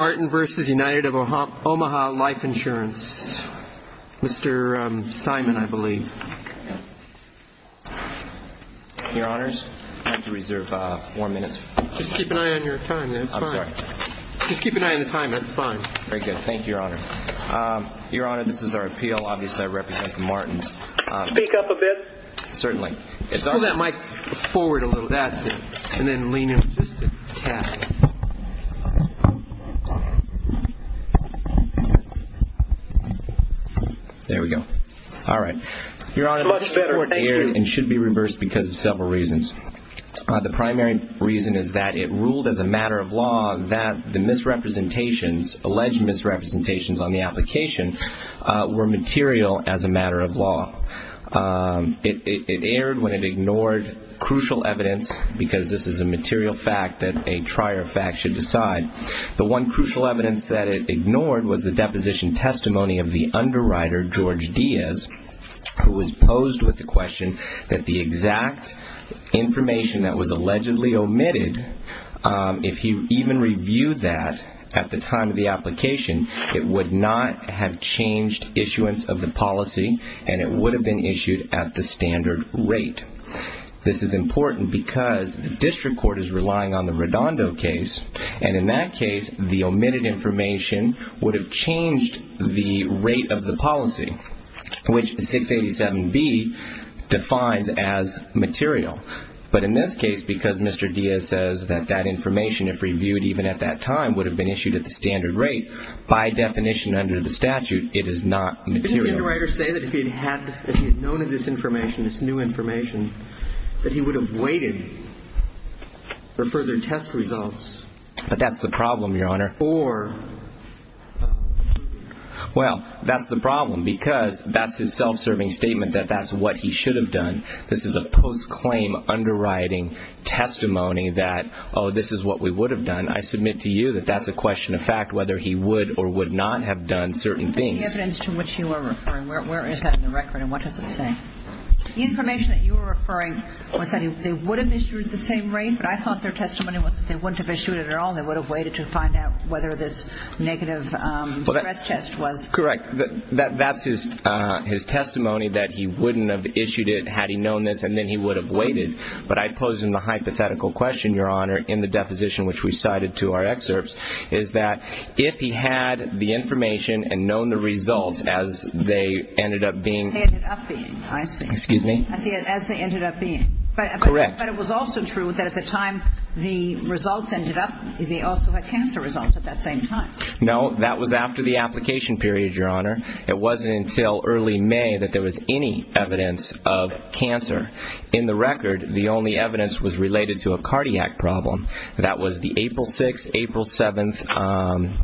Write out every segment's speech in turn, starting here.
Life Insurance, Mr. Simon, I believe. Your Honors, I'd like to reserve four minutes. Just keep an eye on your time. That's fine. I'm sorry. Just keep an eye on the time. That's fine. Very good. Thank you, Your Honor. Your Honor, this is our appeal. Obviously, I represent the Martins. Speak up a bit. Certainly. Pull that mic forward a little. That's it. And then lean in just a tad. There we go. All right. Your Honor, this court erred and should be reversed because of several reasons. The primary reason is that it ruled as a matter of law that the misrepresentations, alleged misrepresentations on the application were material as a matter of law. It erred when it ignored crucial evidence, because this is a material fact that a trier of facts should decide. The one crucial evidence that it ignored was the deposition testimony of the underwriter, George Diaz, who was posed with the question that the exact information that was allegedly omitted, if he even reviewed that at the time of the application, it would not have changed issuance of the policy and it would have been issued at the standard rate. This is important because the district court is relying on the Redondo case, and in that case the omitted information would have changed the rate of the policy, which 687B defines as material. But in this case, because Mr. Diaz says that that information, if reviewed even at that time, would have been issued at the standard rate, by definition under the statute, it is not material. Did the underwriter say that if he had known of this information, this new information, that he would have waited for further test results? But that's the problem, Your Honor. Or? Well, that's the problem, because that's his self-serving statement that that's what he should have done. This is a post-claim underwriting testimony that, oh, this is what we would have done. I submit to you that that's a question of fact, whether he would or would not have done certain things. The evidence to which you are referring, where is that in the record and what does it say? The information that you are referring was that they would have issued the same rate, but I thought their testimony was that they wouldn't have issued it at all and they would have waited to find out whether this negative stress test was. Correct. That's his testimony, that he wouldn't have issued it had he known this and then he would have waited. But I pose him the hypothetical question, Your Honor, in the deposition which we cited to our excerpts, is that if he had the information and known the results as they ended up being. They ended up being, I see. Excuse me? As they ended up being. Correct. But it was also true that at the time the results ended up, they also had cancer results at that same time. No, that was after the application period, Your Honor. It wasn't until early May that there was any evidence of cancer. In the record, the only evidence was related to a cardiac problem. That was the April 6th, April 7th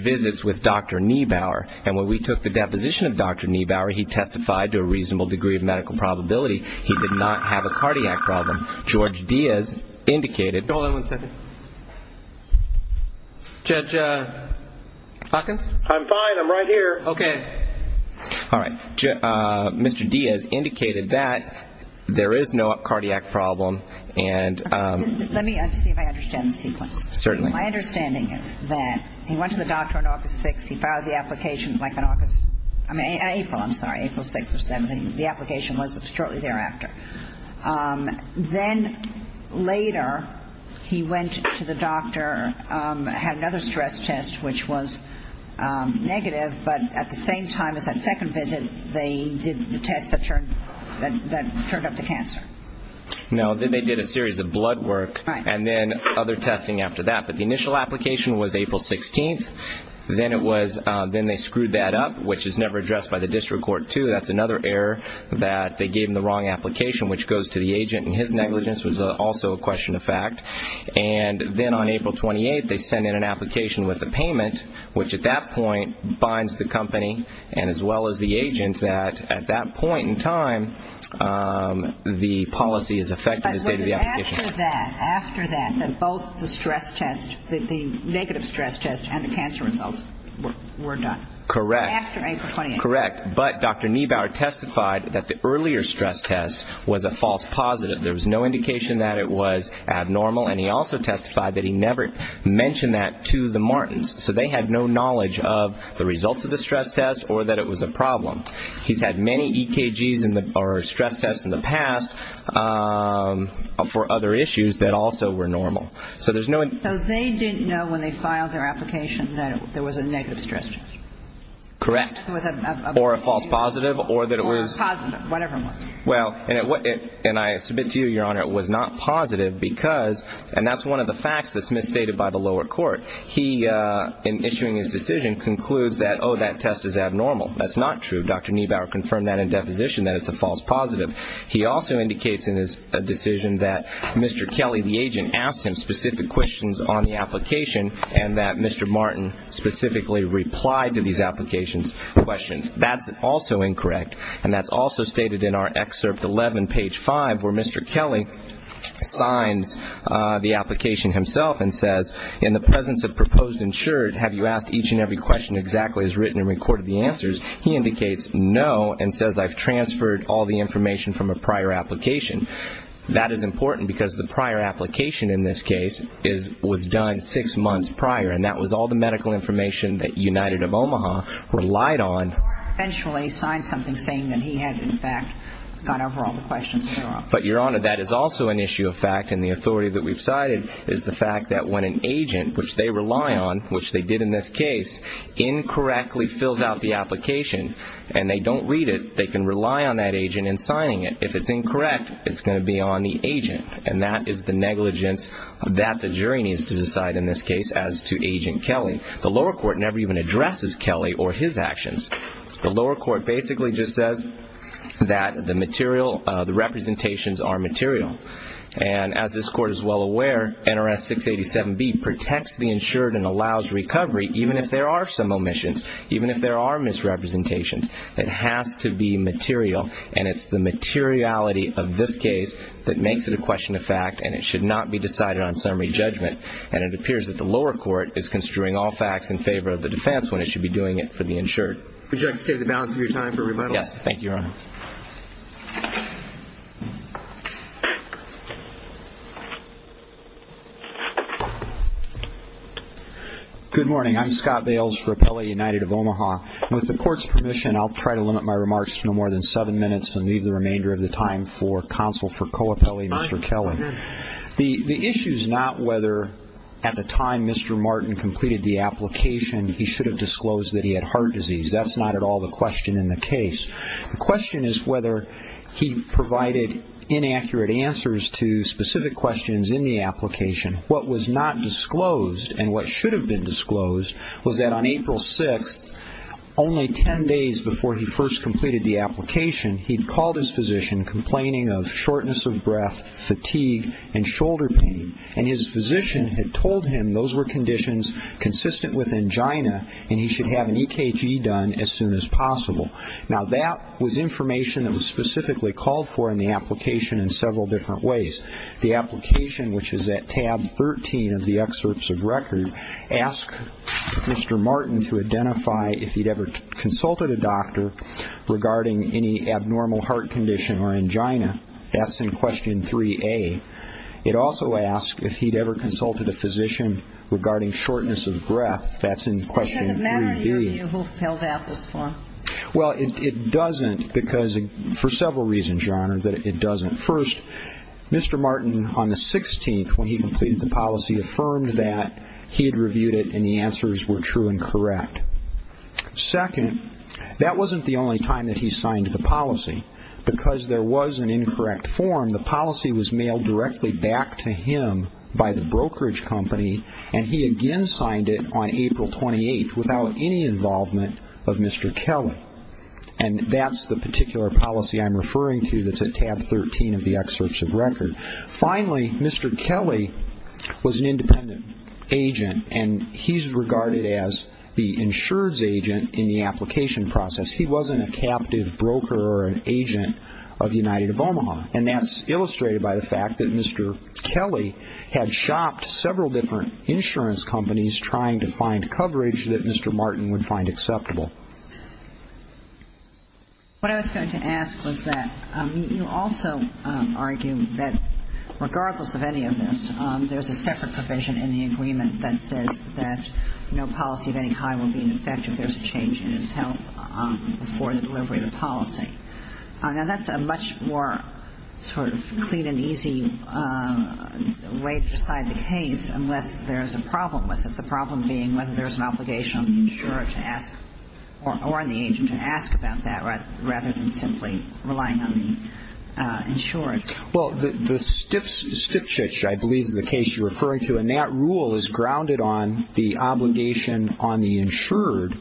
visits with Dr. Niebauer. And when we took the deposition of Dr. Niebauer, he testified to a reasonable degree of medical probability he did not have a cardiac problem. George Diaz indicated. Hold on one second. Judge Hawkins? I'm fine. I'm right here. Okay. All right. Mr. Diaz indicated that there is no cardiac problem. Let me see if I understand the sequence. Certainly. My understanding is that he went to the doctor on August 6th. He filed the application in April 6th or 7th. The application was shortly thereafter. Then later he went to the doctor, had another stress test which was negative, but at the same time as that second visit, they did the test that turned up the cancer. No, they did a series of blood work and then other testing after that. But the initial application was April 16th. Then they screwed that up, which is never addressed by the district court, too. That's another error that they gave him the wrong application, which goes to the agent, and his negligence was also a question of fact. And then on April 28th, they sent in an application with a payment, which at that point binds the company and as well as the agent that at that point in time, the policy is effective as date of the application. But was it after that, after that, that both the stress test, the negative stress test and the cancer results were done? Correct. After April 28th. Correct. But Dr. Niebauer testified that the earlier stress test was a false positive. There was no indication that it was abnormal, and he also testified that he never mentioned that to the Martins. So they had no knowledge of the results of the stress test or that it was a problem. He's had many EKGs or stress tests in the past for other issues that also were normal. So there's no ---- So they didn't know when they filed their application that there was a negative stress test. Correct. Or a false positive or that it was ---- Or a positive, whatever it was. Well, and I submit to you, Your Honor, it was not positive because, and that's one of the facts that's misstated by the lower court. He, in issuing his decision, concludes that, oh, that test is abnormal. That's not true. Dr. Niebauer confirmed that in deposition, that it's a false positive. He also indicates in his decision that Mr. Kelly, the agent, asked him specific questions on the application and that Mr. Martin specifically replied to these applications' questions. That's also incorrect, and that's also stated in our excerpt 11, page 5, where Mr. Kelly signs the application himself and says, in the presence of proposed insured, have you asked each and every question exactly as written and recorded the answers? He indicates no and says I've transferred all the information from a prior application. That is important because the prior application in this case was done six months prior, and that was all the medical information that United of Omaha relied on. The lower court eventually signed something saying that he had, in fact, got over all the questions thereof. But, Your Honor, that is also an issue of fact, and the authority that we've cited is the fact that when an agent, which they rely on, which they did in this case, incorrectly fills out the application and they don't read it, they can rely on that agent in signing it. If it's incorrect, it's going to be on the agent, and that is the negligence that the jury needs to decide in this case as to Agent Kelly. The lower court never even addresses Kelly or his actions. The lower court basically just says that the representations are material, and as this court is well aware, NRS 687B protects the insured and allows recovery even if there are some omissions, even if there are misrepresentations. It has to be material, and it's the materiality of this case that makes it a question of fact, and it should not be decided on summary judgment, and it appears that the lower court is construing all facts in favor of the defense when it should be doing it for the insured. Would you like to take the balance of your time for rebuttals? Yes. Thank you, Your Honor. Good morning. I'm Scott Bales for Appellate United of Omaha. With the court's permission, I'll try to limit my remarks to no more than seven minutes and leave the remainder of the time for counsel for co-appellate, Mr. Kelly. The issue is not whether at the time Mr. Martin completed the application he should have disclosed that he had heart disease. That's not at all the question in the case. The question is whether he provided inaccurate answers to specific questions in the application. What was not disclosed and what should have been disclosed was that on April 6th, only 10 days before he first completed the application, he'd called his physician complaining of shortness of breath, fatigue, and shoulder pain, and his physician had told him those were conditions consistent with angina and he should have an EKG done as soon as possible. Now, that was information that was specifically called for in the application in several different ways. The application, which is at tab 13 of the excerpts of record, asked Mr. Martin to identify if he'd ever consulted a doctor regarding any abnormal heart condition or angina. That's in question 3A. It also asked if he'd ever consulted a physician regarding shortness of breath. That's in question 3B. Does it matter to you who filled out this form? Well, it doesn't because for several reasons, Your Honor, that it doesn't. First, Mr. Martin, on the 16th when he completed the policy, affirmed that he had reviewed it and the answers were true and correct. Second, that wasn't the only time that he signed the policy. Because there was an incorrect form, the policy was mailed directly back to him by the brokerage company, and he again signed it on April 28th without any involvement of Mr. Kelly. And that's the particular policy I'm referring to that's at tab 13 of the excerpts of record. Finally, Mr. Kelly was an independent agent, and he's regarded as the insurance agent in the application process. He wasn't a captive broker or an agent of United of Omaha. And that's illustrated by the fact that Mr. Kelly had shopped several different insurance companies trying to find coverage that Mr. Martin would find acceptable. What I was going to ask was that you also argue that regardless of any of this, there's a separate provision in the agreement that says that no policy of any kind will be in effect if there's a change in its health before the delivery of the policy. Now, that's a much more sort of clean and easy way to decide the case, unless there's a problem with it, the problem being whether there's an obligation on the insurer to ask or on the agent to ask about that, rather than simply relying on the insured. Well, the Stipchich, I believe, is the case you're referring to, and that rule is grounded on the obligation on the insured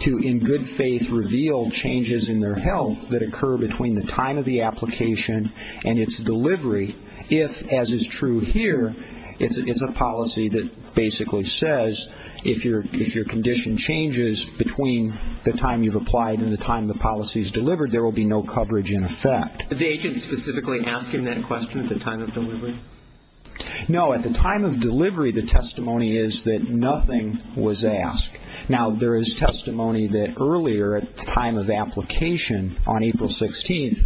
to, in good faith, reveal changes in their health that occur between the time of the application and its delivery, if, as is true here, it's a policy that basically says, if your condition changes between the time you've applied and the time the policy is delivered, there will be no coverage in effect. Are the agents specifically asking that question at the time of delivery? No, at the time of delivery, the testimony is that nothing was asked. Now, there is testimony that earlier, at the time of application on April 16th,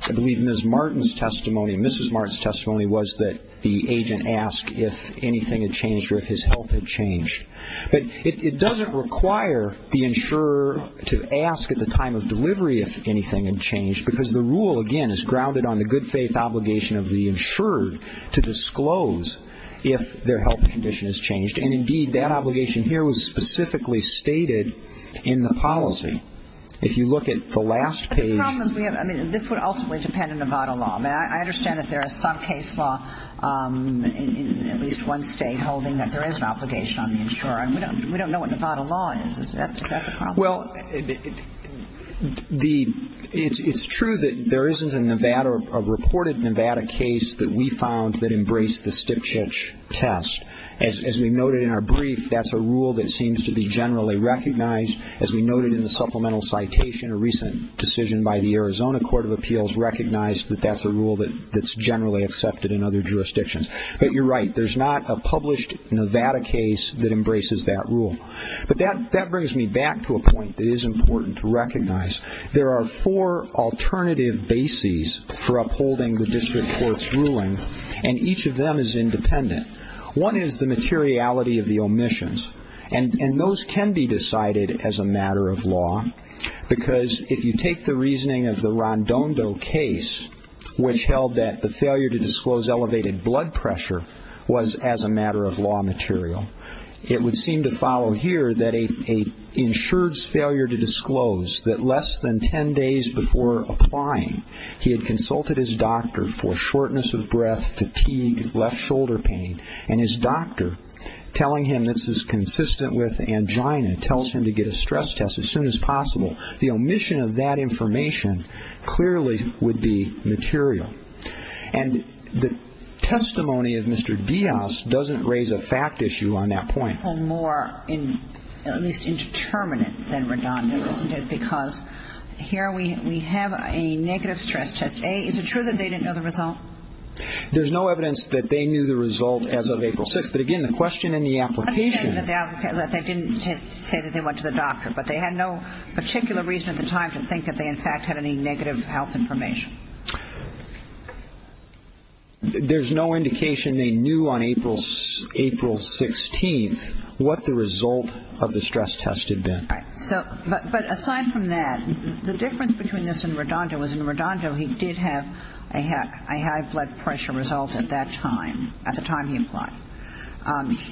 I believe Ms. Martin's testimony, Mrs. Martin's testimony, was that the agent asked if anything had changed or if his health had changed. But it doesn't require the insurer to ask at the time of delivery if anything had changed, because the rule, again, is grounded on the good faith obligation of the insured to disclose if their health condition has changed, and indeed that obligation here was specifically stated in the policy. If you look at the last page. But the problem is we have, I mean, this would ultimately depend on Nevada law. I mean, I understand that there is some case law in at least one state holding that there is an obligation on the insurer. We don't know what Nevada law is. Is that the problem? Well, it's true that there isn't a Nevada, a reported Nevada case that we found that embraced the Stipchich test. As we noted in our brief, that's a rule that seems to be generally recognized. As we noted in the supplemental citation, a recent decision by the Arizona Court of Appeals recognized that that's a rule that's generally accepted in other jurisdictions. But you're right, there's not a published Nevada case that embraces that rule. But that brings me back to a point that is important to recognize. There are four alternative bases for upholding the district court's ruling, and each of them is independent. One is the materiality of the omissions, and those can be decided as a matter of law. Because if you take the reasoning of the Rondondo case, which held that the failure to disclose elevated blood pressure was as a matter of law material, it would seem to follow here that an insurer's failure to disclose that less than 10 days before applying, he had consulted his doctor for shortness of breath, fatigue, left shoulder pain, and his doctor telling him this is consistent with angina, tells him to get a stress test as soon as possible. The omission of that information clearly would be material. And the testimony of Mr. Diaz doesn't raise a fact issue on that point. Well, more at least indeterminate than redundant, isn't it? Because here we have a negative stress test. A, is it true that they didn't know the result? There's no evidence that they knew the result as of April 6th. But, again, the question in the application. They didn't say that they went to the doctor, but they had no particular reason at the time to think that they, in fact, had any negative health information. There's no indication they knew on April 16th what the result of the stress test had been. But aside from that, the difference between this and Rondondo was in Rondondo he did have a high blood pressure result at that time, at the time he applied.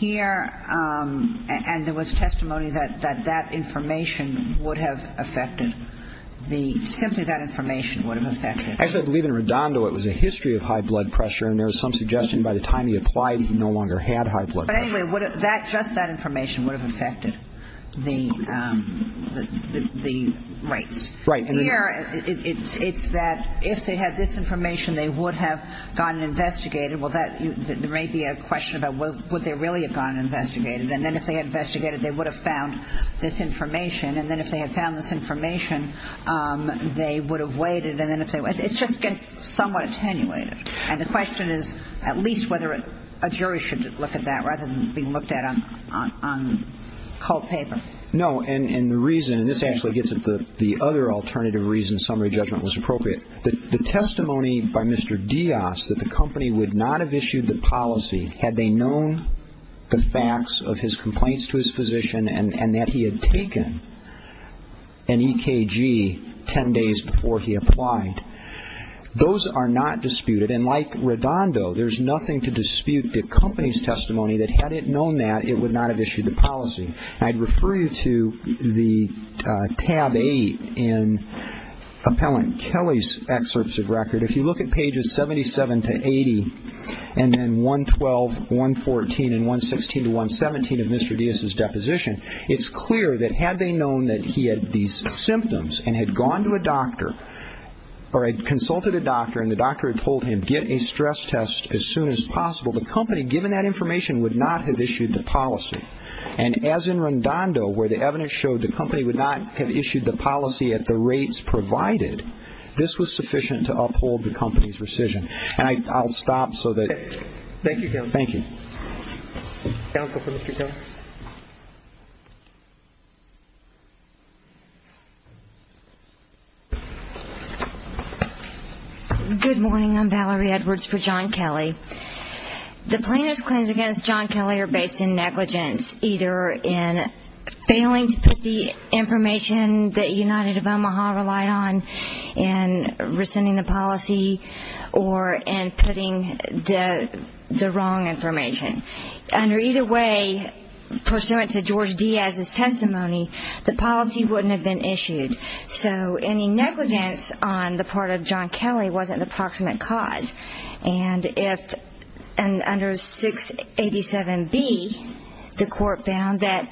Here, and there was testimony that that information would have affected the, simply that information would have affected. Actually, I believe in Rondondo it was a history of high blood pressure, and there was some suggestion by the time he applied he no longer had high blood pressure. But anyway, just that information would have affected the rates. Here, it's that if they had this information, they would have gone and investigated. Well, there may be a question about would they really have gone and investigated. And then if they had investigated, they would have found this information. And then if they had found this information, they would have waited. It just gets somewhat attenuated. And the question is at least whether a jury should look at that rather than being looked at on cold paper. No, and the reason, and this actually gets at the other alternative reason summary judgment was appropriate. The testimony by Mr. Dias that the company would not have issued the policy had they known the facts of his complaints to his physician and that he had taken an EKG 10 days before he applied. Those are not disputed. And like Rondondo, there's nothing to dispute the company's testimony that had it known that, it would not have issued the policy. And I'd refer you to the tab 8 in Appellant Kelly's excerpts of record. If you look at pages 77 to 80 and then 112, 114, and 116 to 117 of Mr. Dias' deposition, it's clear that had they known that he had these symptoms and had gone to a doctor or had consulted a doctor and the doctor had told him get a stress test as soon as possible, the company, given that information, would not have issued the policy. And as in Rondondo, where the evidence showed the company would not have issued the policy at the rates provided, this was sufficient to uphold the company's rescission. And I'll stop so that. Thank you, counsel. Thank you. Counsel for Mr. Kelly. Good morning. I'm Valerie Edwards for John Kelly. The plaintiff's claims against John Kelly are based in negligence, either in failing to put the information that United of Omaha relied on in rescinding the policy or in putting the wrong information. Under either way, pursuant to George Dias' testimony, the policy wouldn't have been issued. So any negligence on the part of John Kelly wasn't an approximate cause. And under 687B, the court found that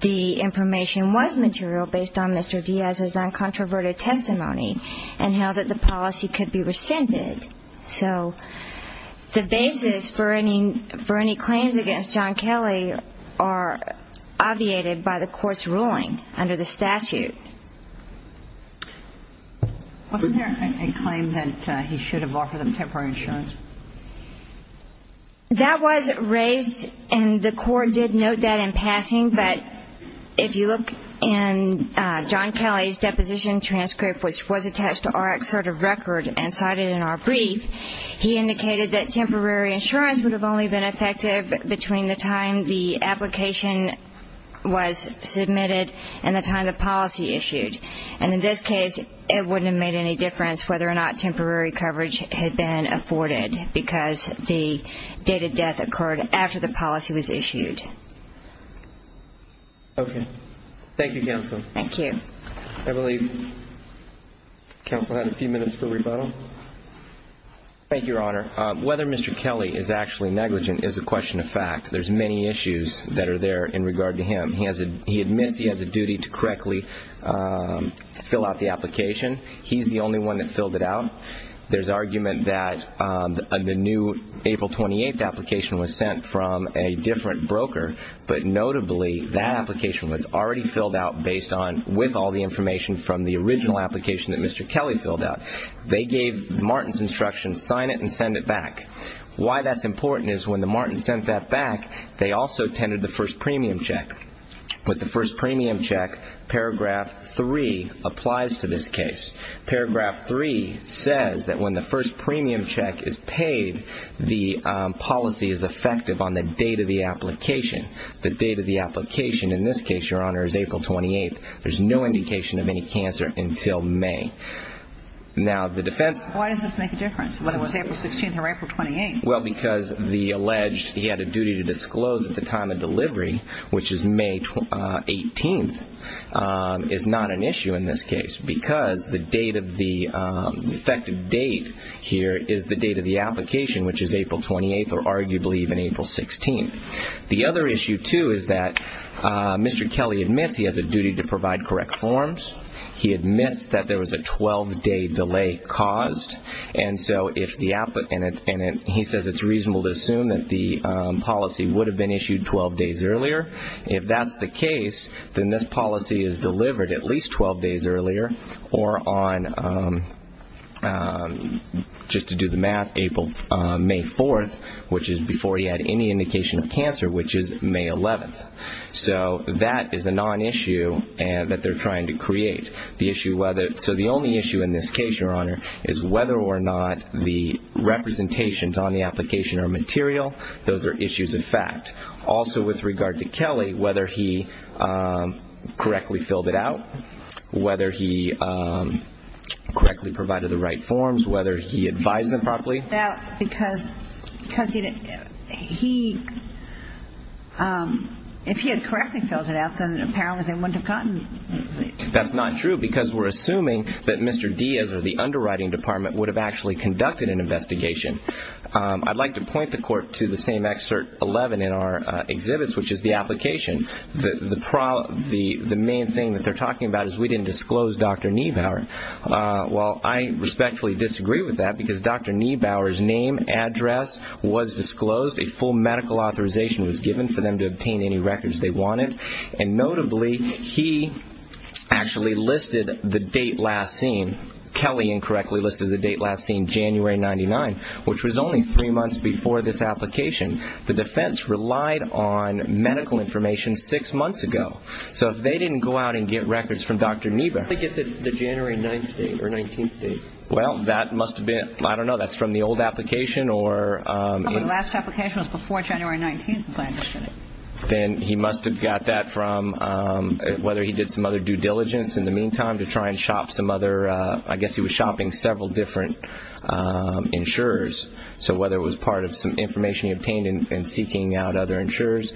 the information was material based on Mr. Dias' uncontroverted testimony and held that the policy could be rescinded. So the basis for any claims against John Kelly are obviated by the court's ruling under the statute. Wasn't there a claim that he should have offered them temporary insurance? That was raised, and the court did note that in passing, but if you look in John Kelly's deposition transcript, which was attached to our assertive record and cited in our brief, he indicated that temporary insurance would have only been effective between the time the application was submitted and the time the policy issued. And in this case, it wouldn't have made any difference whether or not temporary coverage had been afforded because the date of death occurred after the policy was issued. Okay. Thank you, Counsel. Thank you. Thank you, Your Honor. Whether Mr. Kelly is actually negligent is a question of fact. There's many issues that are there in regard to him. He admits he has a duty to correctly fill out the application. He's the only one that filled it out. There's argument that the new April 28th application was sent from a different broker, but notably that application was already filled out based on with all the information from the original application that Mr. Kelly filled out. They gave Martin's instructions, sign it and send it back. Why that's important is when the Martins sent that back, they also tendered the first premium check. With the first premium check, Paragraph 3 applies to this case. Paragraph 3 says that when the first premium check is paid, the policy is effective on the date of the application. The date of the application in this case, Your Honor, is April 28th. There's no indication of any cancer until May. Why does this make a difference, whether it was April 16th or April 28th? Because the alleged he had a duty to disclose at the time of delivery, which is May 18th, is not an issue in this case because the effective date here is the date of the application, which is April 28th or arguably even April 16th. The other issue too is that Mr. Kelly admits he has a duty to provide correct forms. He admits that there was a 12-day delay caused. He says it's reasonable to assume that the policy would have been issued 12 days earlier. If that's the case, then this policy is delivered at least 12 days earlier or on, just to do the math, April, May 4th, which is before he had any indication of cancer, which is May 11th. So that is a non-issue that they're trying to create. So the only issue in this case, Your Honor, is whether or not the representations on the application are material. Those are issues of fact. Also with regard to Kelly, whether he correctly filled it out, whether he correctly provided the right forms, whether he advised them properly. If he had correctly filled it out, then apparently they wouldn't have gotten it. That's not true because we're assuming that Mr. Diaz or the underwriting department would have actually conducted an investigation. I'd like to point the Court to the same Excerpt 11 in our exhibits, which is the application. The main thing that they're talking about is we didn't disclose Dr. Niebauer. Well, I respectfully disagree with that because Dr. Niebauer's name, address was disclosed. A full medical authorization was given for them to obtain any records they wanted. And notably, he actually listed the date last seen. Kelly incorrectly listed the date last seen, January 99, which was only three months before this application. The defense relied on medical information six months ago. So if they didn't go out and get records from Dr. Niebauer, How did they get the January 9th date or 19th date? Well, that must have been, I don't know, that's from the old application or The last application was before January 19th. Then he must have got that from whether he did some other due diligence in the meantime to try and shop some other, I guess he was shopping several different insurers. So whether it was part of some information he obtained in seeking out other insurers,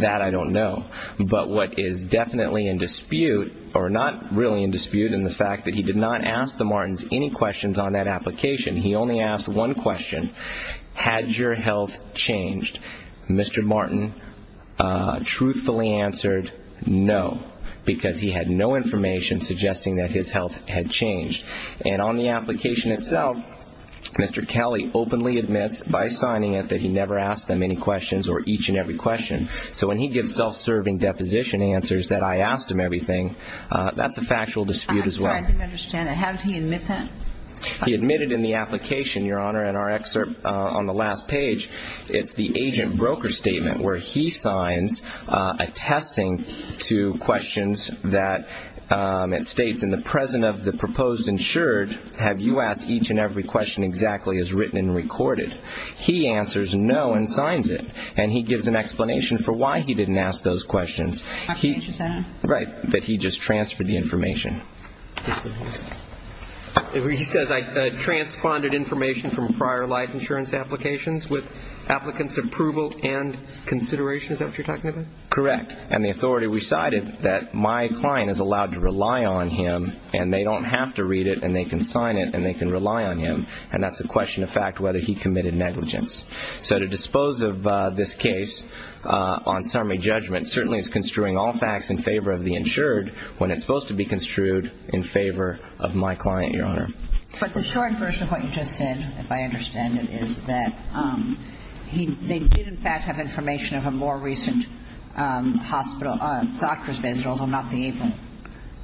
that I don't know. But what is definitely in dispute, or not really in dispute, in the fact that he did not ask the Martins any questions on that application. He only asked one question. Had your health changed? Mr. Martin truthfully answered no, because he had no information suggesting that his health had changed. And on the application itself, Mr. Kelly openly admits by signing it that he never asked them any questions or each and every question. So when he gives self-serving deposition answers that I asked him everything, that's a factual dispute as well. I'm sorry, I didn't understand that. How did he admit that? He admitted in the application, Your Honor, in our excerpt on the last page, it's the agent-broker statement where he signs, attesting to questions that it states, In the present of the proposed insured, have you asked each and every question exactly as written and recorded? He answers no and signs it. And he gives an explanation for why he didn't ask those questions. But he just transferred the information. He says I transponded information from prior life insurance applications with applicant's approval and consideration. Is that what you're talking about? Correct. And the authority recited that my client is allowed to rely on him, and they don't have to read it, and they can sign it, and they can rely on him. And that's a question of fact whether he committed negligence. So to dispose of this case on summary judgment certainly is construing all facts in favor of the insured when it's supposed to be construed in favor of my client, Your Honor. But the short version of what you just said, if I understand it, is that they did, in fact, have information of a more recent doctor's visit, although not the April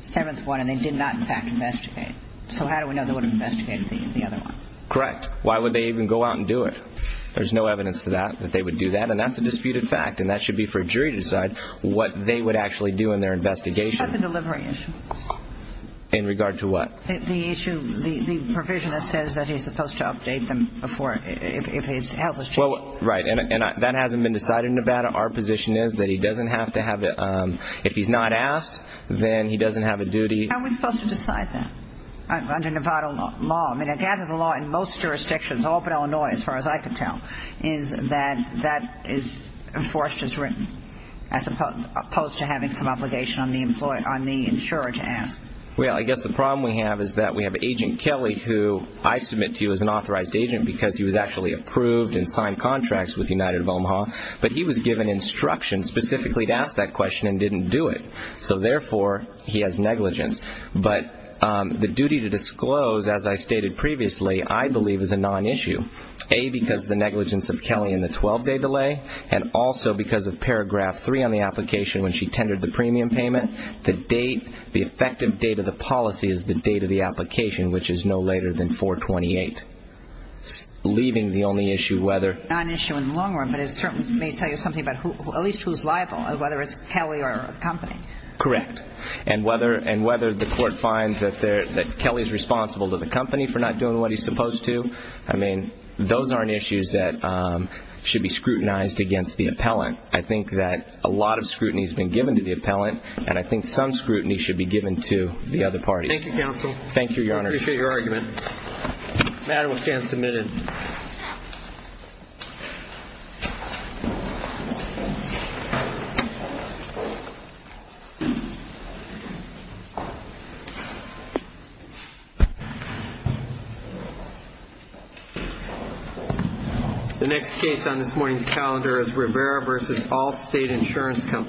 7th one, and they did not, in fact, investigate. So how do we know they would have investigated the other one? Correct. Why would they even go out and do it? There's no evidence to that that they would do that, and that's a disputed fact, and that should be for a jury to decide what they would actually do in their investigation. What about the delivery issue? In regard to what? The issue, the provision that says that he's supposed to update them before, if his health has changed. Right, and that hasn't been decided in Nevada. Our position is that he doesn't have to have it. If he's not asked, then he doesn't have a duty. How are we supposed to decide that under Nevada law? I mean, I gather the law in most jurisdictions, all but Illinois, as far as I can tell, is that that is enforced as written as opposed to having some obligation on the insurer to ask. Well, I guess the problem we have is that we have Agent Kelly, who I submit to as an authorized agent because he was actually approved and signed contracts with United of Omaha, but he was given instructions specifically to ask that question and didn't do it. So, therefore, he has negligence. But the duty to disclose, as I stated previously, I believe is a non-issue, A, because of the negligence of Kelly in the 12-day delay, and also because of paragraph 3 on the application when she tendered the premium payment. The date, the effective date of the policy is the date of the application, which is no later than 4-28, leaving the only issue whether... Non-issue in the long run, but it certainly may tell you something about at least who's liable, whether it's Kelly or the company. Correct. And whether the court finds that Kelly is responsible to the company for not doing what he's supposed to, I mean, those aren't issues that should be scrutinized against the appellant. I think that a lot of scrutiny has been given to the appellant, and I think some scrutiny should be given to the other parties. Thank you, counsel. Thank you, Your Honor. I appreciate your argument. The matter will stand submitted. Thank you.